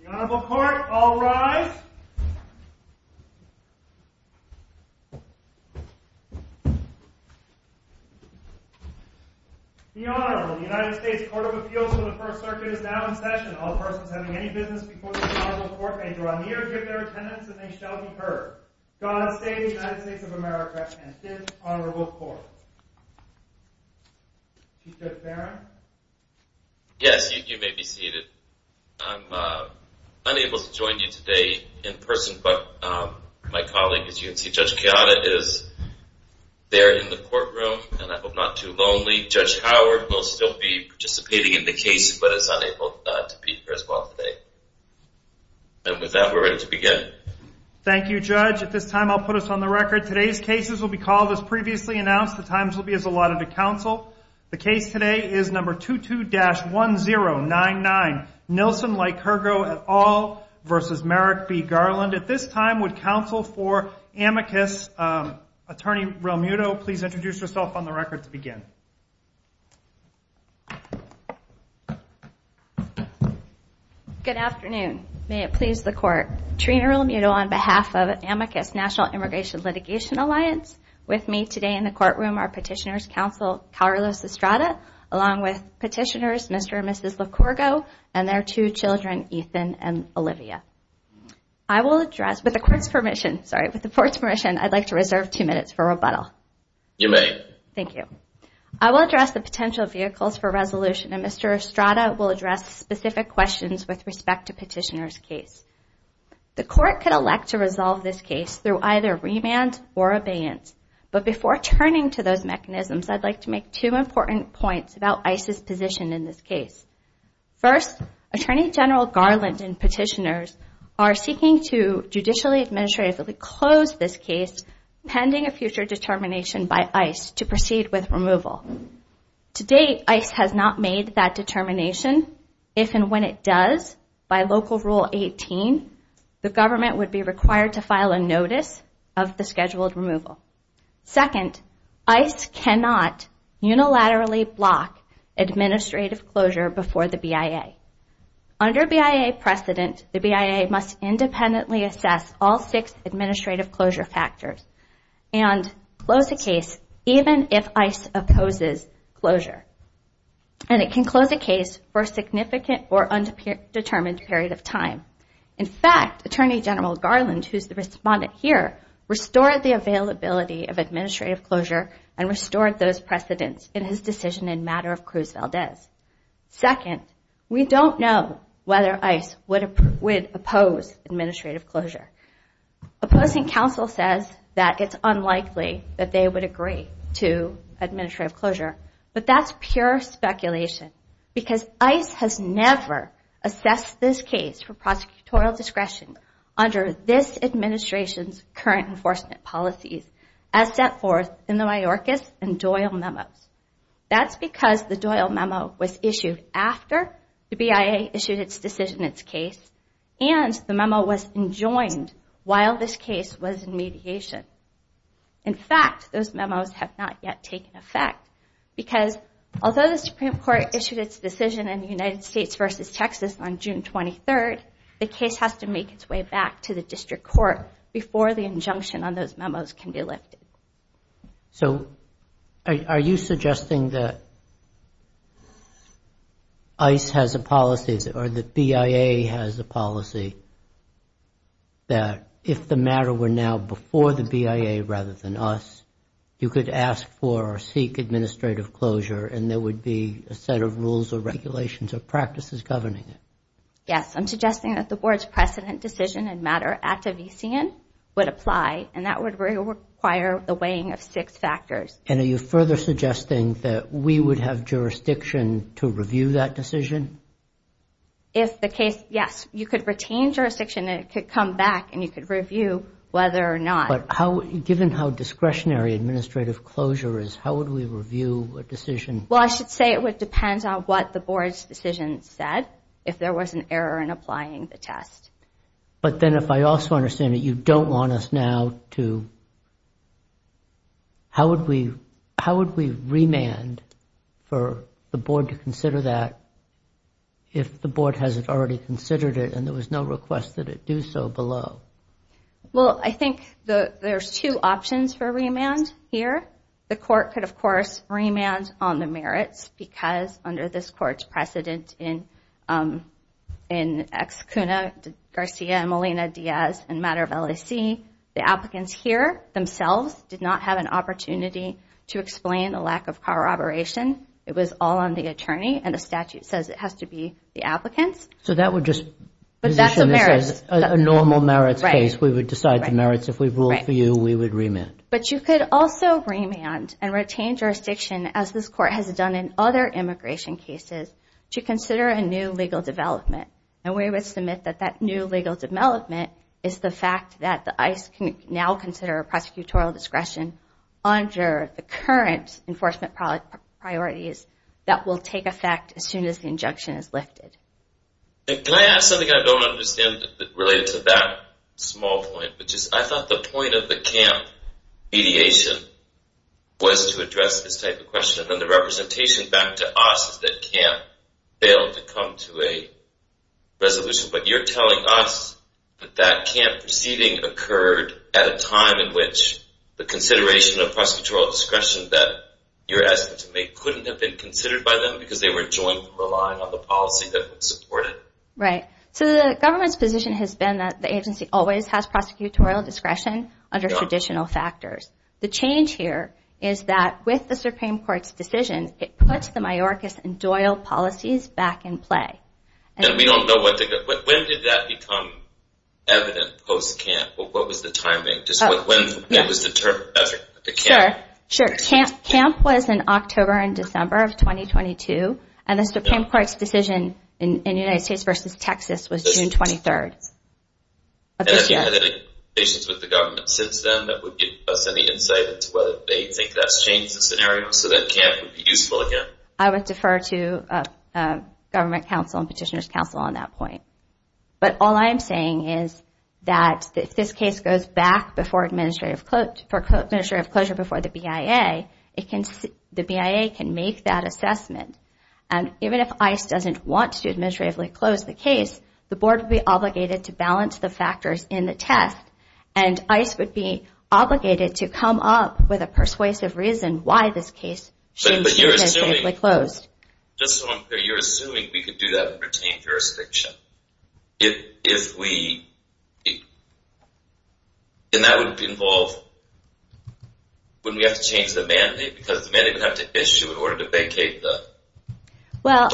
The Honorable Court, all rise. The Honorable, the United States Court of Appeals for the First Circuit is now in session. All persons having any business before the Honorable Court may draw near, give their attendance, and they shall be heard. God save the United States of America and this Honorable Court. Chief Judge Barron? Yes, you may be seated. I'm unable to join you today in person, but my colleague, as you can see, Judge Kayada, is there in the courtroom, and I hope not too lonely. Judge Howard will still be participating in the case, but is unable to be here as well today. And with that, we're ready to begin. Thank you, Judge. At this time, I'll put us on the record. Today's cases will be called as previously announced. The times will be as allotted to counsel. The case today is number 22-1099, Nilsen Likurgo et al. v. Merrick B. Garland. At this time, would counsel for amicus, Attorney Realmuto, please introduce yourself on the record to begin. Good afternoon. May it please the Court. Trina Realmuto on behalf of Amicus National Immigration Litigation Alliance. With me today in the courtroom are Petitioner's Counsel Carlos Estrada, along with Petitioners Mr. and Mrs. Likurgo and their two children, Ethan and Olivia. I will address, with the Court's permission, sorry, with the Court's permission, I'd like to reserve two minutes for rebuttal. You may. Thank you. I will address the potential vehicles for resolution, and Mr. Estrada will address specific questions with respect to Petitioner's case. The Court could elect to resolve this case through either remand or abeyance. But before turning to those mechanisms, I'd like to make two important points about ICE's position in this case. First, Attorney General Garland and Petitioners are seeking to judicially administratively close this case pending a future determination by ICE to proceed with removal. To date, ICE has not made that determination. If and when it does, by Local Rule 18, the government would be required to file a notice of the scheduled removal. Second, ICE cannot unilaterally block administrative closure before the BIA. Under BIA precedent, the BIA must independently assess all six administrative closure factors and close a case even if ICE opposes closure. And it can close a case for a significant or undetermined period of time. In fact, Attorney General Garland, who is the respondent here, restored the availability of administrative closure and restored those precedents in his decision in matter of Cruz Valdez. Second, we don't know whether ICE would oppose administrative closure. Opposing counsel says that it's unlikely that they would agree to administrative closure. But that's pure speculation because ICE has never assessed this case for prosecutorial discretion under this administration's current enforcement policies as set forth in the Mayorkas and Doyle memos. That's because the Doyle memo was issued after the BIA issued its decision in its case and the memo was enjoined while this case was in mediation. In fact, those memos have not yet taken effect because although the Supreme Court issued its decision in the United States versus Texas on June 23, the case has to make its way back to the district court before the injunction on those memos can be lifted. So are you suggesting that ICE has a policy or that BIA has a policy that if the matter were now before the BIA rather than us, you could ask for or seek administrative closure and there would be a set of rules or regulations or practices governing it? Yes, I'm suggesting that the board's precedent decision in matter at Devisian would apply and that would require the weighing of six factors. And are you further suggesting that we would have jurisdiction to review that decision? If the case, yes, you could retain jurisdiction and it could come back and you could review whether or not. But given how discretionary administrative closure is, how would we review a decision? Well, I should say it would depend on what the board's decision said if there was an error in applying the test. But then if I also understand that you don't want us now to, how would we remand for the board to consider that if the board hasn't already considered it and there was no request that it do so below? Well, I think there's two options for remand here. The court could, of course, remand on the merits because under this court's precedent in Ex Cuna Garcia and Molina Diaz in matter of LAC, the applicants here themselves did not have an opportunity to explain the lack of corroboration. It was all on the attorney and the statute says it has to be the applicants. So that would just position this as a normal merits case. We would decide the merits. If we ruled for you, we would remand. But you could also remand and retain jurisdiction as this court has done in other immigration cases to consider a new legal development. And we would submit that that new legal development is the fact that the ICE can now consider prosecutorial discretion under the current enforcement priorities that will take effect as soon as the injunction is lifted. And can I ask something I don't understand related to that small point, which is I thought the point of the camp mediation was to address this type of question. And then the representation back to us is that camp failed to come to a resolution. But you're telling us that that camp proceeding occurred at a time in which the consideration of prosecutorial discretion that you're asking them to make couldn't have been considered by them because they were joint relying on the policy that would support it? Right. So the government's position has been that the agency always has prosecutorial discretion under traditional factors. The change here is that with the Supreme Court's decision, it puts the majoricus and doyle policies back in play. And we don't know when did that become evident post-camp? What was the timing? Just when it was determined. Sure. Camp was in October and December of 2022. And the Supreme Court's decision in the United States versus Texas was June 23rd. And have you had any conversations with the government since then that would give us any insight into whether they think that's changed the scenario so that camp would be useful again? I would defer to government counsel and petitioner's counsel on that point. But all I'm saying is that if this case goes back before administrative closure before the BIA, the BIA can make that assessment. And even if ICE doesn't want to administratively close the case, the board would be obligated to balance the factors in the test. And ICE would be obligated to come up with a persuasive reason why this case should be administratively closed. Just so I'm clear, you're assuming we could do that and retain jurisdiction? If we... And that would involve when we have to change the mandate because the mandate would have to issue in order to vacate the... Well,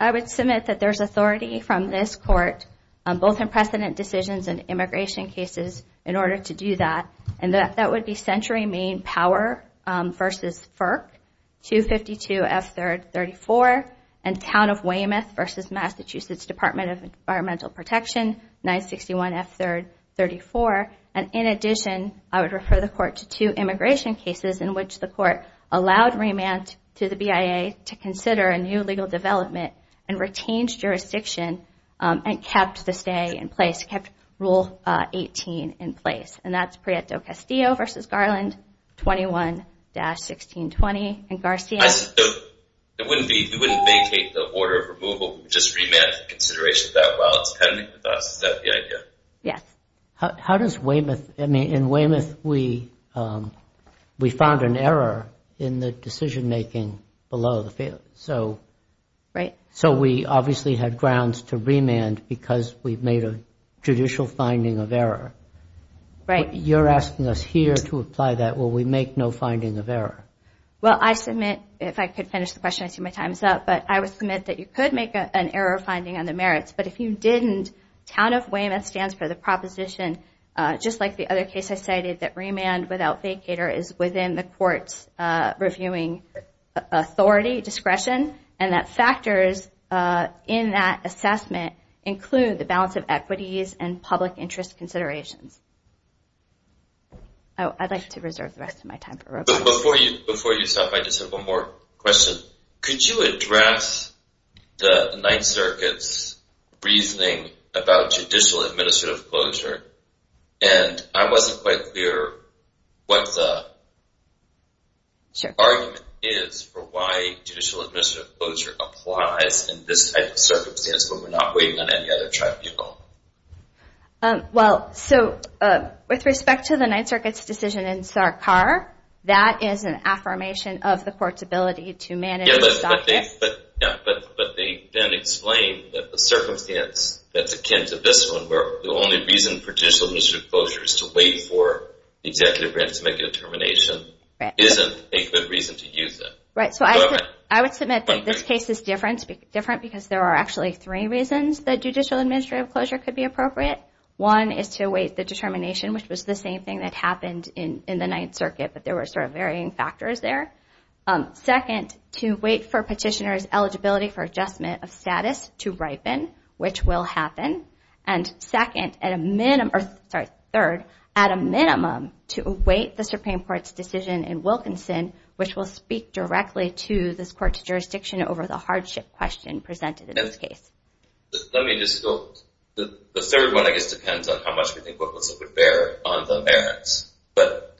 I would submit that there's authority from this court, both in precedent decisions and immigration cases, in order to do that. And that would be Century Main Power versus FERC, 252 F3rd 34, and Town of Weymouth versus Massachusetts Department of Environmental Protection, 961 F3rd 34. And in addition, I would refer the court to two immigration cases in which the court allowed remand to the BIA to consider a new legal development and retains jurisdiction and kept the stay in place, kept Rule 18 in place. And that's Prieto-Castillo versus Garland, 21-1620. And Garcia? It wouldn't be... You wouldn't vacate the order of removal. You would just remand to consideration that while it's pending with us. Is that the idea? How does Weymouth... I mean, in Weymouth, we found an error in the decision-making below the field. Right. So we obviously had grounds to remand because we've made a judicial finding of error. Right. You're asking us here to apply that where we make no finding of error. Well, I submit... If I could finish the question, I see my time is up. But I would submit that you could make an error finding on the merits. But if you didn't, Town of Weymouth stands for the proposition, just like the other case I cited, that remand without vacater is within the court's reviewing authority, discretion, and that factors in that assessment include the balance of equities and public interest considerations. Oh, I'd like to reserve the rest of my time for Rob. Before you stop, I just have one more question. Could you address the Ninth Circuit's reasoning about judicial administrative closure? And I wasn't quite clear what the argument is for why judicial administrative closure applies in this type of circumstance when we're not waiting on any other tribunal. Well, so with respect to the Ninth Circuit's decision in Sarkar, that is an affirmation of the court's ability to manage this object. Yeah, but they then explain that the circumstance that's akin to this one, where the only reason for judicial administrative closure is to wait for the executive branch to make a determination, isn't a good reason to use it. Right, so I would submit that this case is different because there are actually three reasons that judicial administrative closure could be appropriate. One is to wait the determination, which was the same thing that happened in the Ninth Circuit, but there were sort of varying factors there. Second, to wait for petitioner's eligibility for adjustment of status to ripen, which will happen. And third, at a minimum, to await the Supreme Court's decision in Wilkinson, which will speak directly to this court's jurisdiction over the hardship question presented in this case. The third one, I guess, depends on how much we think Wilkinson would bear on the merits. Yes, but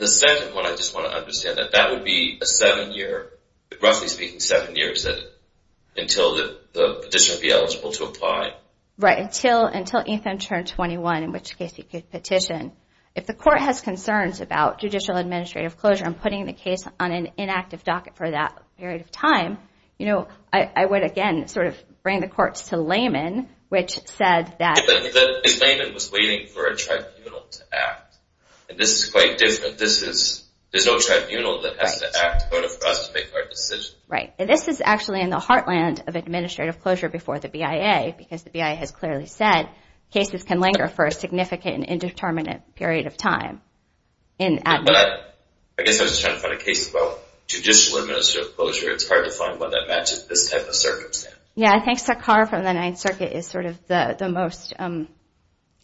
the second one, I just want to understand that, that would be a seven-year, roughly speaking, seven years until the petitioner would be eligible to apply? Right, until Ethan turned 21, in which case he could petition. If the court has concerns about judicial administrative closure and putting the case on an inactive docket for that period of time, you know, I would, again, sort of bring the courts to laymen, which said that- But the layman was waiting for a tribunal to act, and this is quite different. There's no tribunal that has to act in order for us to make our decision. Right, and this is actually in the heartland of administrative closure before the BIA, because the BIA has clearly said cases can linger for a significant and indeterminate period of time. But I guess I was just trying to find a case about judicial administrative closure. It's hard to find one that matches this type of circumstance. Yeah, I think Sakhar from the Ninth Circuit is sort of the most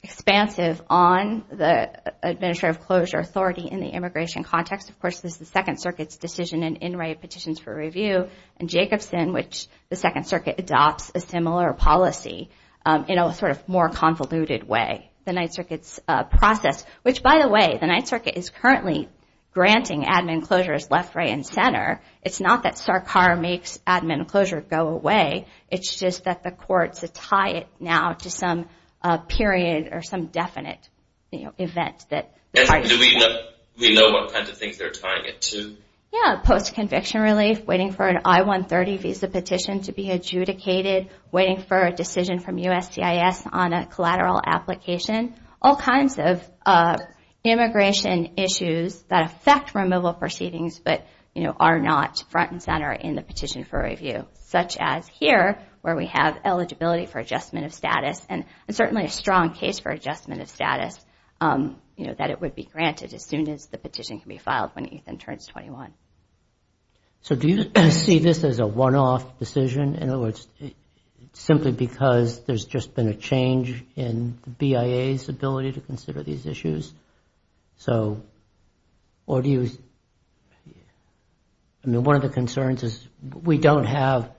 expansive on the administrative closure authority in the immigration context. Of course, this is the Second Circuit's decision in in-write petitions for review, and Jacobson, which the Second Circuit adopts a similar policy, in a sort of more convoluted way, the Ninth Circuit's process, which, by the way, the Ninth Circuit is currently granting admin closure as left, right, and center. It's not that Sakhar makes admin closure go away. It's just that the courts tie it now to some period or some definite event. We know what kind of things they're tying it to. Yeah, post-conviction relief, waiting for an I-130 visa petition to be adjudicated, waiting for a decision from USGIS on a collateral application, all kinds of immigration issues that affect removal proceedings but are not front and center in the petition for review, such as here where we have eligibility for adjustment of status, and certainly a strong case for adjustment of status that it would be granted as soon as the petition can be filed when Ethan turns 21. So do you see this as a one-off decision, in other words, simply because there's just been a change in the BIA's ability to consider these issues? So, or do you... I mean, one of the concerns is we don't have...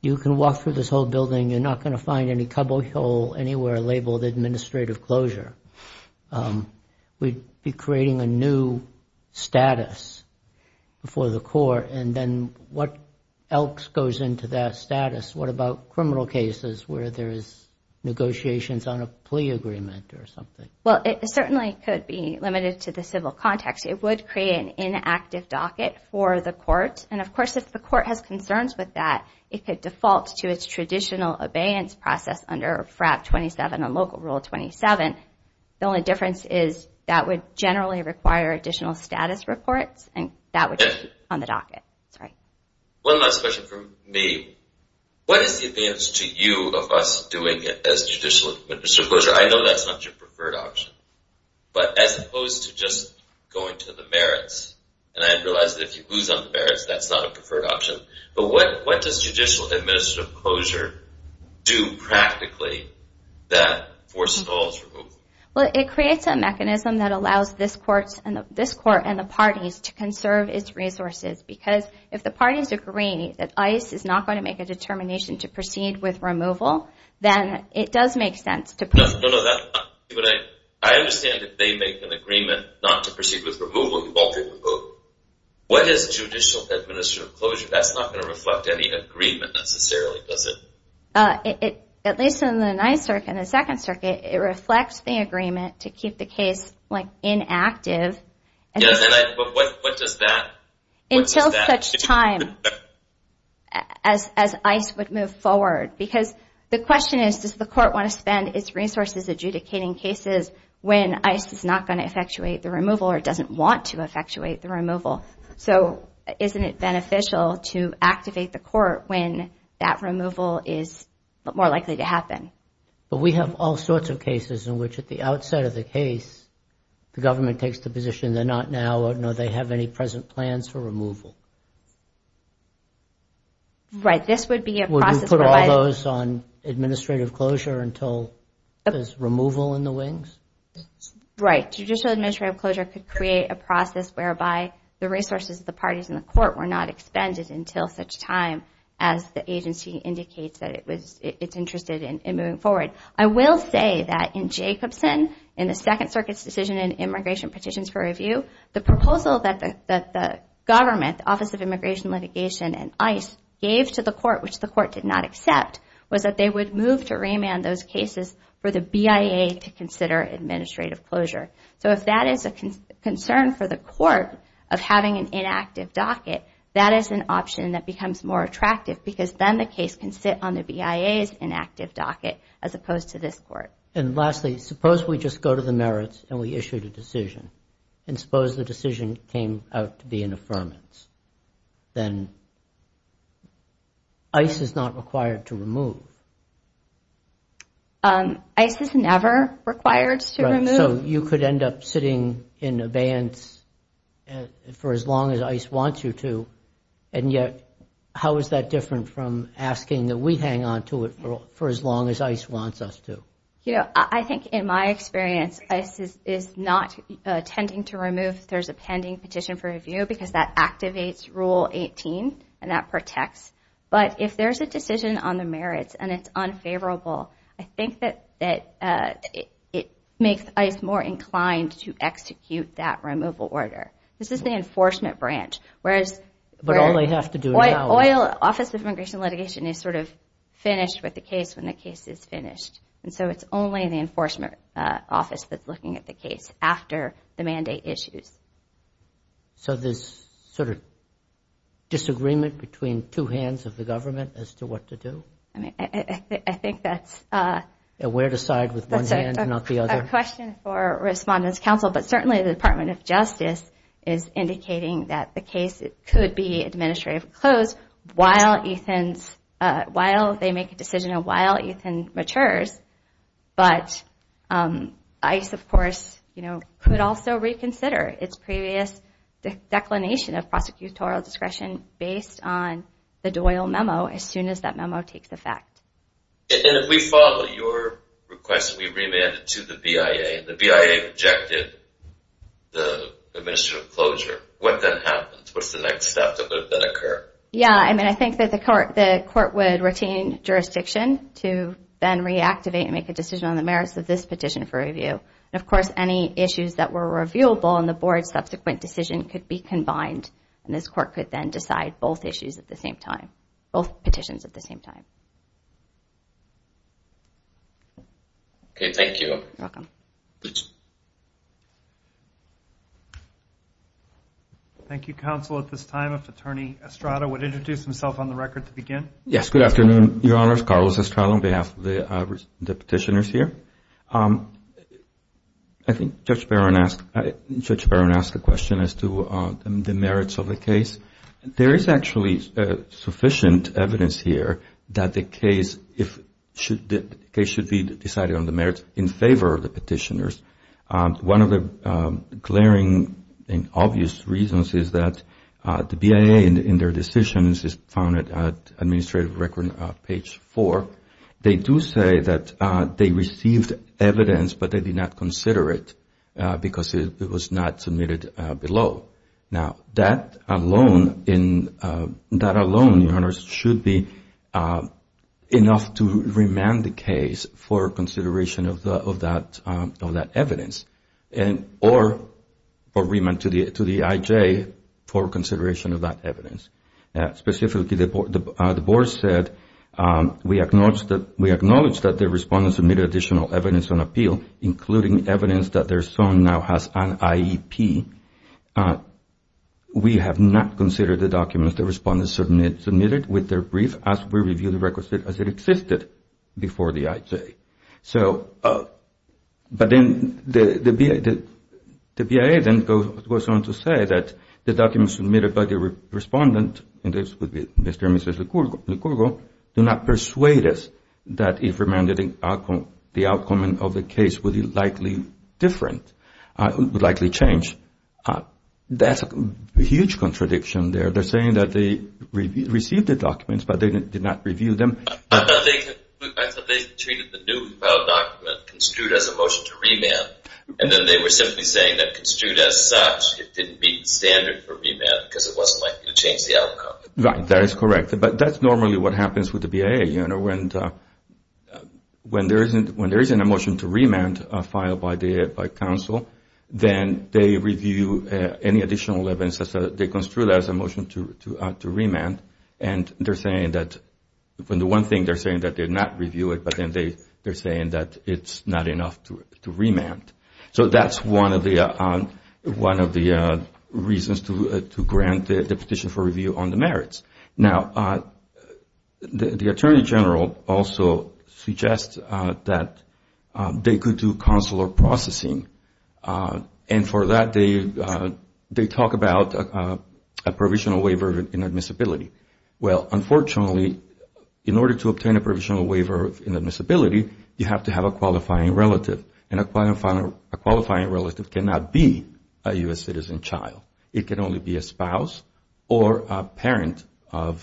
You can walk through this whole building, you're not going to find any cobble hole anywhere labeled administrative closure. We'd be creating a new status for the court, and then what else goes into that status? What about criminal cases where there is negotiations on a plea agreement or something? Well, it certainly could be limited to the civil context. It would create an inactive docket for the court, and of course if the court has concerns with that, it could default to its traditional abeyance process under FRAP 27 and Local Rule 27. The only difference is that would generally require additional status reports, and that would be on the docket. One last question from me. What is the advance to you of us doing as judicial administrative closure? I know that's not your preferred option, but as opposed to just going to the merits, and I realize that if you lose on the merits, that's not a preferred option, but what does judicial administrative closure do practically that forces all to move? Well, it creates a mechanism that allows this court and the parties to conserve its resources, because if the parties agree that ICE is not going to make a determination to proceed with removal, then it does make sense to proceed. I understand that they make an agreement not to proceed with removal. What is judicial administrative closure? That's not going to reflect any agreement necessarily, is it? At least in the Ninth Circuit and the Second Circuit, it reflects the agreement to keep the case inactive until such time as ICE would move forward, because the question is, does the court want to spend its resources adjudicating cases when ICE is not going to effectuate the removal or doesn't want to effectuate the removal? So isn't it beneficial to activate the court when that removal is more likely to happen? But we have all sorts of cases in which at the outset of the case, the government takes the position they're not now, nor do they have any present plans for removal. Would you put all those on administrative closure until there's removal in the wings? Right. Judicial administrative closure could create a process whereby the resources of the parties in the court were not expended until such time as the agency indicates that it's interested in moving forward. I will say that in Jacobson, in the Second Circuit's decision in Immigration Petitions for Review, the proposal that the government, Office of Immigration Litigation and ICE, gave to the court, which the court did not accept, was that they would move to remand those cases for the BIA to consider administrative closure. So if that is a concern for the court of having an inactive docket, that is an option that becomes more attractive because then the case can sit on the BIA's inactive docket as opposed to this court. And lastly, suppose we just go to the merits and we issued a decision. And suppose the decision came out to be an affirmance. Then ICE is not required to remove. ICE is never required to remove. So you could end up sitting in abeyance for as long as ICE wants you to, and yet how is that different from asking that we hang on to it for as long as ICE wants us to? I think in my experience, ICE is not intending to remove if there's a pending petition for review because that activates Rule 18 and that protects. But if there's a decision on the merits and it's unfavorable, I think that it makes ICE more inclined to execute that removal order. This is the enforcement branch. But all they have to do is now. The Office of Immigration and Litigation is sort of finished with the case when the case is finished. And so it's only the Enforcement Office that's looking at the case after the mandate issues. So there's sort of disagreement between two hands of the government as to what to do? I think that's a question for Respondents' Council, but certainly the Department of Justice is indicating that the case could be administratively closed while they make a decision and while Ethan matures. But ICE, of course, could also reconsider its previous declination of prosecutorial discretion based on the Doyle memo as soon as that memo takes effect. And if we follow your request, we remand it to the BIA. The BIA rejected the administrative closure. What then happens? What's the next step that would then occur? Yeah, I mean, I think that the court would retain jurisdiction to then reactivate and make a decision on the merits of this petition for review. And, of course, any issues that were reviewable in the board's subsequent decision could be combined, and this court could then decide both issues at the same time, both petitions at the same time. Okay, thank you. You're welcome. Thank you, Counsel. At this time, if Attorney Estrada would introduce himself on the record to begin. Yes, good afternoon, Your Honors. Carlos Estrada on behalf of the petitioners here. I think Judge Barron asked a question as to the merits of the case. There is actually sufficient evidence here that the case should be decided on the merits in favor of the petitioners. One of the glaring and obvious reasons is that the BIA in their decisions is found at administrative record page four. They do say that they received evidence, but they did not consider it because it was not submitted below. Now, that alone, Your Honors, should be enough to remand the case for consideration of that evidence or remand to the IJ for consideration of that evidence. Specifically, the board said we acknowledge that the respondents submitted additional evidence on appeal, including evidence that their son now has an IEP. We have not considered the documents the respondents submitted with their brief as we review the records as it existed before the IJ. So, but then the BIA then goes on to say that the documents submitted by the respondent, and this would be Mr. and Mrs. Licurgo, do not persuade us that if remanded, the outcome of the case would be likely different, would likely change. That's a huge contradiction there. They're saying that they received the documents, but they did not review them. I thought they treated the new filed document construed as a motion to remand, and then they were simply saying that construed as such, it didn't meet the standard for remand because it wasn't likely to change the outcome. Right, that is correct. But that's normally what happens with the BIA. You know, when there isn't a motion to remand filed by counsel, then they review any additional evidence. They construe that as a motion to remand, and they're saying that, when the one thing they're saying that they did not review it, but then they're saying that it's not enough to remand. So that's one of the reasons to grant the petition for review on the merits. Now, the Attorney General also suggests that they could do consular processing, and for that they talk about a provisional waiver in admissibility. Well, unfortunately, in order to obtain a provisional waiver in admissibility, you have to have a qualifying relative, and a qualifying relative cannot be a U.S. citizen child. It can only be a spouse or a parent of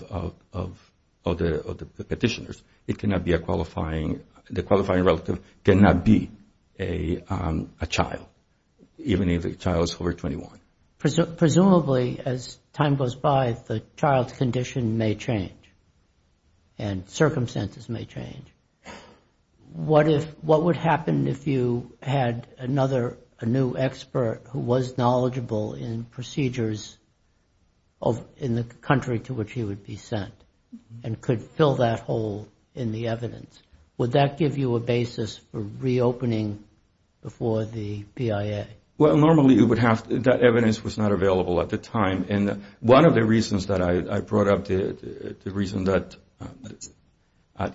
the petitioners. The qualifying relative cannot be a child, even if the child is over 21. Presumably, as time goes by, the child's condition may change, and circumstances may change. What would happen if you had another, a new expert who was knowledgeable in procedures in the country to which he would be sent, and could fill that hole in the evidence? Would that give you a basis for reopening before the BIA? Well, normally, that evidence was not available at the time, and one of the reasons that I brought up the reason that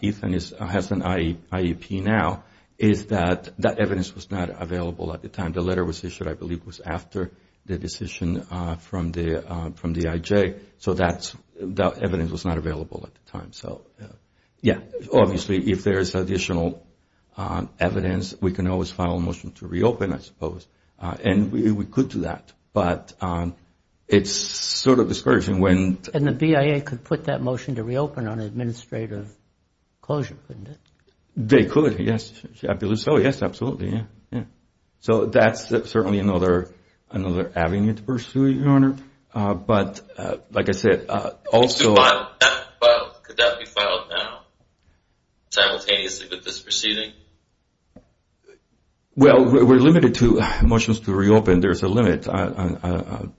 Ethan has an IEP now is that that evidence was not available at the time. The letter was issued, I believe, was after the decision from the IJ, so that evidence was not available at the time. Yeah, obviously, if there's additional evidence, we can always file a motion to reopen, I suppose, and we could do that, but it's sort of discouraging when- And the BIA could put that motion to reopen on administrative closure, couldn't it? They could, yes, I believe so, yes, absolutely, yeah. So that's certainly another avenue to pursue, Your Honor, but like I said, also- Could that be filed now, simultaneously with this proceeding? Well, we're limited to motions to reopen. There's a limit, but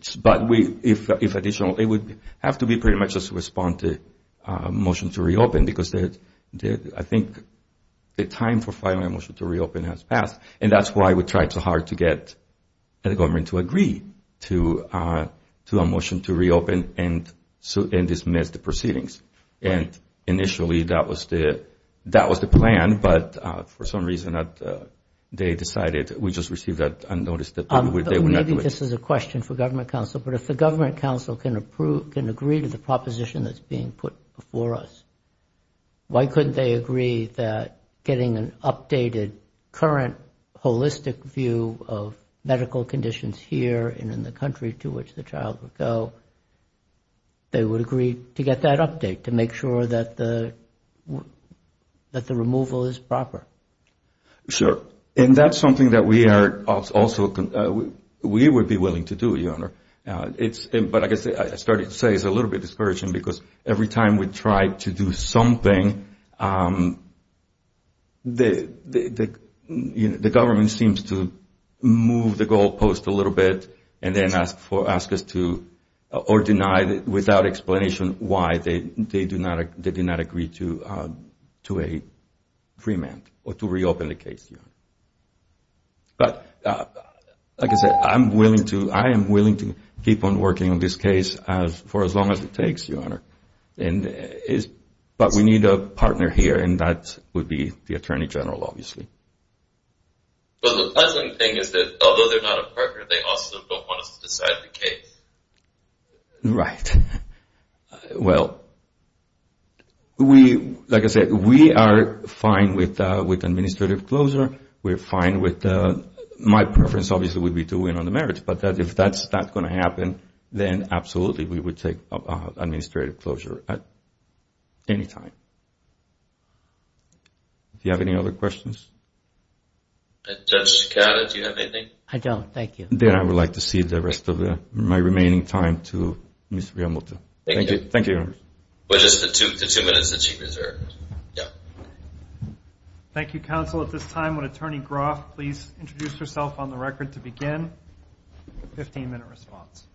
if additional, it would have to be pretty much a response to a motion to reopen because I think the time for filing a motion to reopen has passed, and that's why we tried so hard to get the government to agree to a motion to reopen and dismiss the proceedings. And initially, that was the plan, but for some reason, they decided we just received that notice that they would not do it. Maybe this is a question for government counsel, but if the government counsel can agree to the proposition that's being put before us, why couldn't they agree that getting an updated, current, holistic view of medical conditions here and in the country to which the child would go, they would agree to get that update to make sure that the removal is proper? Sure, and that's something that we are also, we would be willing to do, Your Honor. But I guess I started to say it's a little bit discouraging because every time we try to do something, the government seems to move the goalpost a little bit and then ask us to, or deny without explanation, why they did not agree to a freement or to reopen the case, Your Honor. But like I said, I am willing to keep on working on this case for as long as it takes, Your Honor. But we need a partner here, and that would be the Attorney General, obviously. But the pleasant thing is that although they're not a partner, they also don't want us to decide the case. Right. Well, we, like I said, we are fine with administrative closure. We're fine with, my preference obviously would be to win on the merits. But if that's not going to happen, then absolutely we would take administrative closure at any time. Do you have any other questions? Judge Scala, do you have anything? I don't. Thank you. Then I would like to cede the rest of my remaining time to Ms. Riamuto. Thank you. Thank you, Your Honor. With just the two minutes that she reserved. Yeah. Thank you, counsel. At this time, would Attorney Groff please introduce herself on the record to begin? Fifteen-minute response.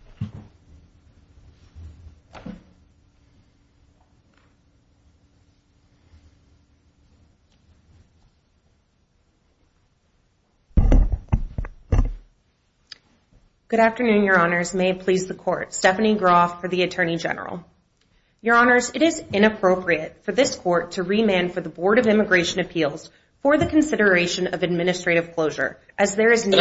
Good afternoon, Your Honors. May it please the Court. Stephanie Groff for the Attorney General. Your Honors, it is inappropriate for this Court to remand for the Board of Immigration Appeals for the consideration of administrative closure as there is no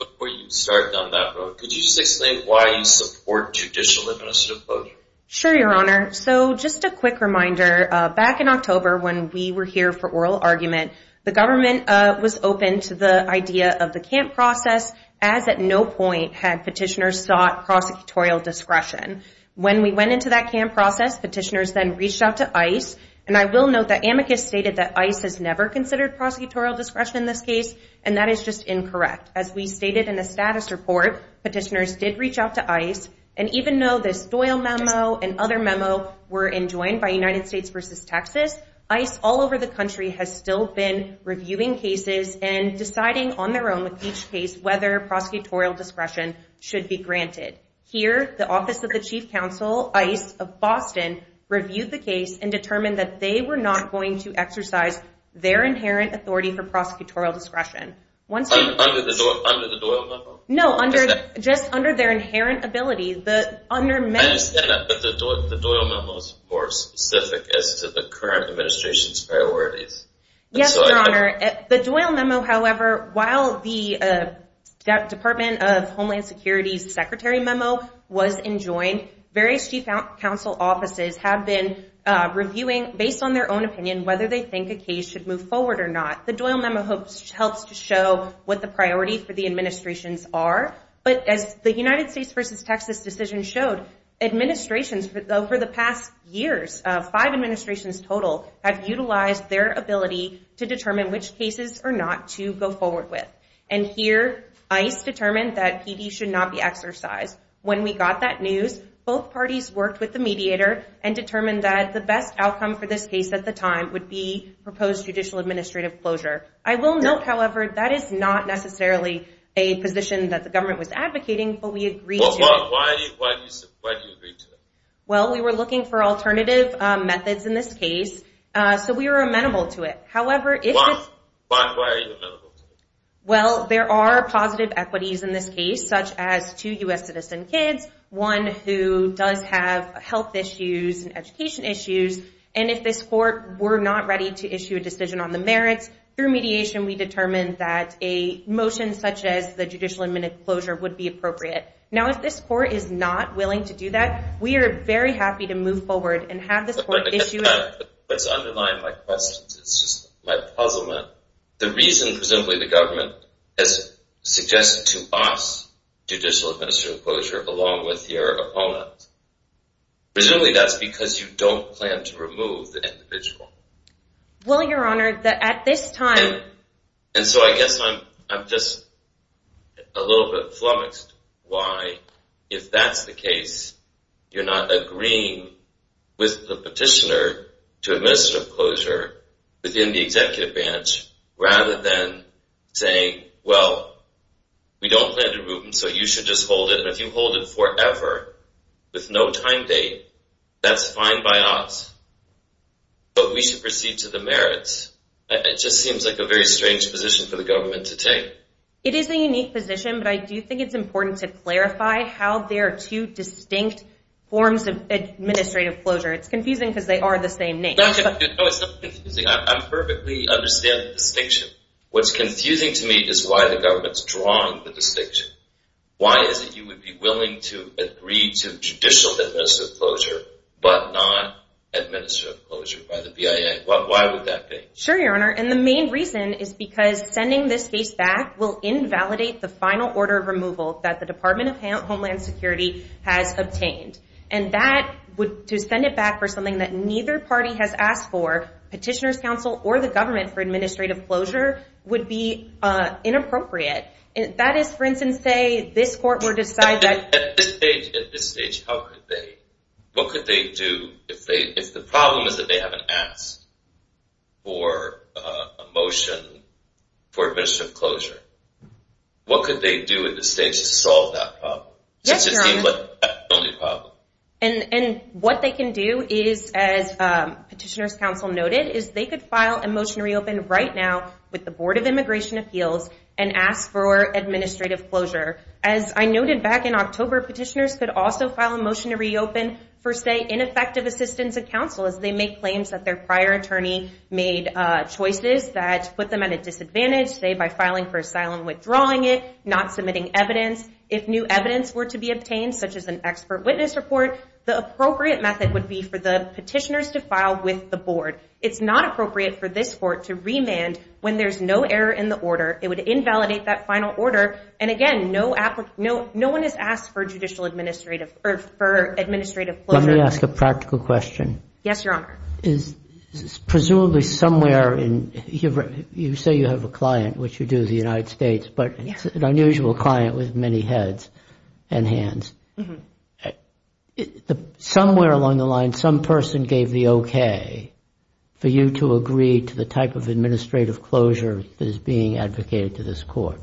Before you start down that road, could you just explain why you support judicial administrative closure? Sure, Your Honor. So just a quick reminder, back in October when we were here for oral argument, the government was open to the idea of the camp process, as at no point had petitioners sought prosecutorial discretion. When we went into that camp process, petitioners then reached out to ICE, and I will note that amicus stated that ICE has never considered prosecutorial discretion in this case, and that is just incorrect. As we stated in the status report, petitioners did reach out to ICE, and even though this Doyle memo and other memo were enjoined by United States v. Texas, ICE all over the country has still been reviewing cases and deciding on their own with each case whether prosecutorial discretion should be granted. Here, the Office of the Chief Counsel, ICE of Boston, reviewed the case and determined that they were not going to exercise their inherent authority for prosecutorial discretion. Under the Doyle memo? No, just under their inherent ability. I understand that, but the Doyle memo is more specific as to the current administration's priorities. Yes, Your Honor. The Doyle memo, however, while the Department of Homeland Security's secretary memo was enjoined, various chief counsel offices have been reviewing, based on their own opinion, whether they think a case should move forward or not. The Doyle memo helps to show what the priority for the administrations are, but as the United States v. Texas decision showed, administrations, for the past years, five administrations total, have utilized their ability to determine which cases are not to go forward with. And here, ICE determined that PD should not be exercised. When we got that news, both parties worked with the mediator and determined that the best outcome for this case at the time would be proposed judicial administrative closure. I will note, however, that is not necessarily a position that the government was advocating, but we agreed to it. Why did you agree to it? Well, we were looking for alternative methods in this case, so we were amenable to it. Why are you amenable to it? Well, there are positive equities in this case, such as two U.S. citizen kids, one who does have health issues and education issues, and if this court were not ready to issue a decision on the merits, through mediation we determined that a motion such as the judicial administrative closure would be appropriate. Now, if this court is not willing to do that, we are very happy to move forward and have this court issue it. What's underlying my question is just my puzzlement. The reason, presumably, the government has suggested to us judicial administrative closure along with your opponent. Presumably that's because you don't plan to remove the individual. Well, Your Honor, at this time... And so I guess I'm just a little bit flummoxed why, if that's the case, you're not agreeing with the petitioner to administrative closure within the executive branch rather than saying, well, we don't plan to remove him, so you should just hold it, and if you hold it forever with no time date, that's fine by us, but we should proceed to the merits. It just seems like a very strange position for the government to take. It is a unique position, but I do think it's important to clarify how there are two distinct forms of administrative closure. It's confusing because they are the same name. No, it's not confusing. I perfectly understand the distinction. What's confusing to me is why the government's drawing the distinction. Why is it you would be willing to agree to judicial administrative closure but not administrative closure by the BIA? Why would that be? Sure, Your Honor, and the main reason is because sending this case back will invalidate the final order of removal that the Department of Homeland Security has obtained, and to send it back for something that neither party has asked for, petitioner's counsel or the government for administrative closure, would be inappropriate. That is, for instance, say this court were to decide that— At this stage, how could they? What could they do if the problem is that they haven't asked for a motion for administrative closure? What could they do at this stage to solve that problem? Yes, Your Honor, and what they can do is, as petitioner's counsel noted, is they could file a motion to reopen right now with the Board of Immigration Appeals and ask for administrative closure. As I noted back in October, petitioners could also file a motion to reopen for, say, ineffective assistance of counsel as they make claims that their prior attorney made choices that put them at a disadvantage, say by filing for asylum, withdrawing it, not submitting evidence. If new evidence were to be obtained, such as an expert witness report, the appropriate method would be for the petitioners to file with the board. It's not appropriate for this court to remand when there's no error in the order. It would invalidate that final order, and again, no one has asked for administrative closure. Let me ask a practical question. Yes, Your Honor. Presumably somewhere in—you say you have a client, which you do, the United States, but it's an unusual client with many heads and hands. Somewhere along the line, some person gave the okay for you to agree to the type of administrative closure that is being advocated to this court.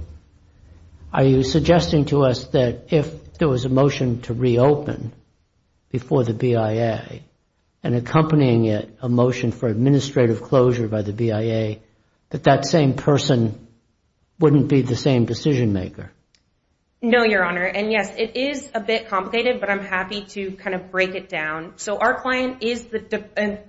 Are you suggesting to us that if there was a motion to reopen before the BIA and accompanying it a motion for administrative closure by the BIA, that that same person wouldn't be the same decision maker? No, Your Honor, and yes, it is a bit complicated, but I'm happy to kind of break it down. So our client is the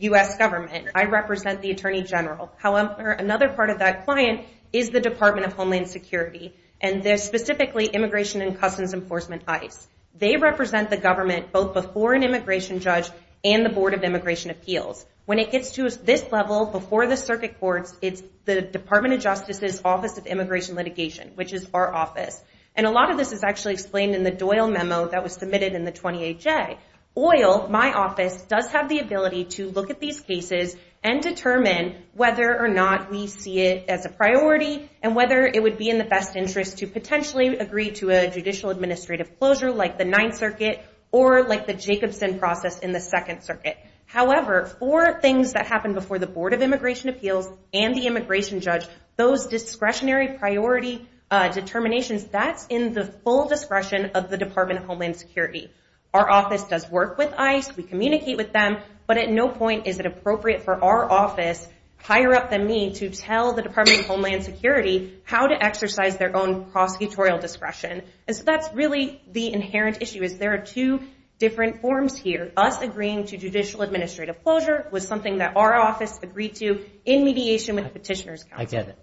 U.S. government. I represent the Attorney General. However, another part of that client is the Department of Homeland Security, and they're specifically Immigration and Customs Enforcement, ICE. They represent the government both before an immigration judge and the Board of Immigration Appeals. When it gets to this level, before the circuit courts, it's the Department of Justice's Office of Immigration Litigation, which is our office. And a lot of this is actually explained in the Doyle memo that was submitted in the 28J. OIL, my office, does have the ability to look at these cases and determine whether or not we see it as a priority and whether it would be in the best interest to potentially agree to a judicial administrative closure like the Ninth Circuit or like the Jacobson process in the Second Circuit. However, for things that happen before the Board of Immigration Appeals and the immigration judge, those discretionary priority determinations, that's in the full discretion of the Department of Homeland Security. Our office does work with ICE. We communicate with them, but at no point is it appropriate for our office, higher up than me, to tell the Department of Homeland Security how to exercise their own prosecutorial discretion. And so that's really the inherent issue is there are two different forms here, but us agreeing to judicial administrative closure was something that our office agreed to in mediation with the Petitioner's Council. I get it.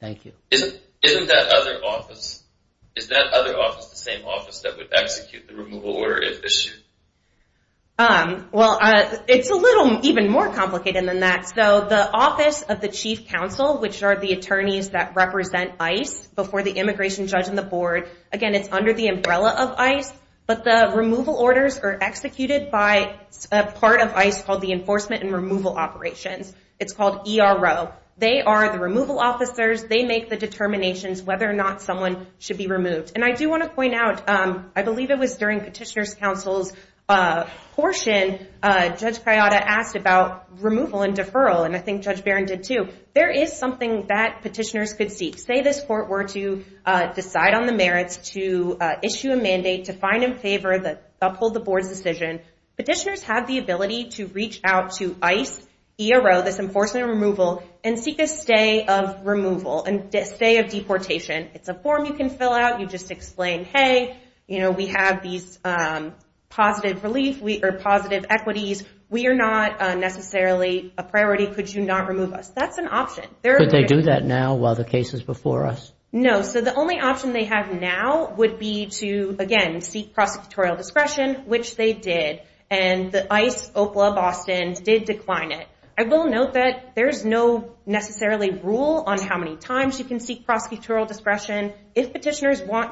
Thank you. Isn't that other office the same office that would execute the removal order if issued? Well, it's a little even more complicated than that. So the Office of the Chief Counsel, which are the attorneys that represent ICE before the immigration judge and the Board, again, it's under the umbrella of ICE, but the removal orders are executed by a part of ICE called the Enforcement and Removal Operations. It's called ERO. They are the removal officers. They make the determinations whether or not someone should be removed. And I do want to point out, I believe it was during Petitioner's Council's portion, Judge Kayada asked about removal and deferral, and I think Judge Barron did too. There is something that petitioners could seek. Say this court were to decide on the merits to issue a mandate to find in favor, uphold the Board's decision, petitioners have the ability to reach out to ICE, ERO, this Enforcement and Removal, and seek a stay of removal and stay of deportation. It's a form you can fill out. You just explain, hey, we have these positive equities. We are not necessarily a priority. Could you not remove us? That's an option. Could they do that now while the case is before us? No. So the only option they have now would be to, again, seek prosecutorial discretion, which they did, and ICE, OPLA, Boston did decline it. I will note that there is no necessarily rule on how many times you can seek prosecutorial discretion. If petitioners want to.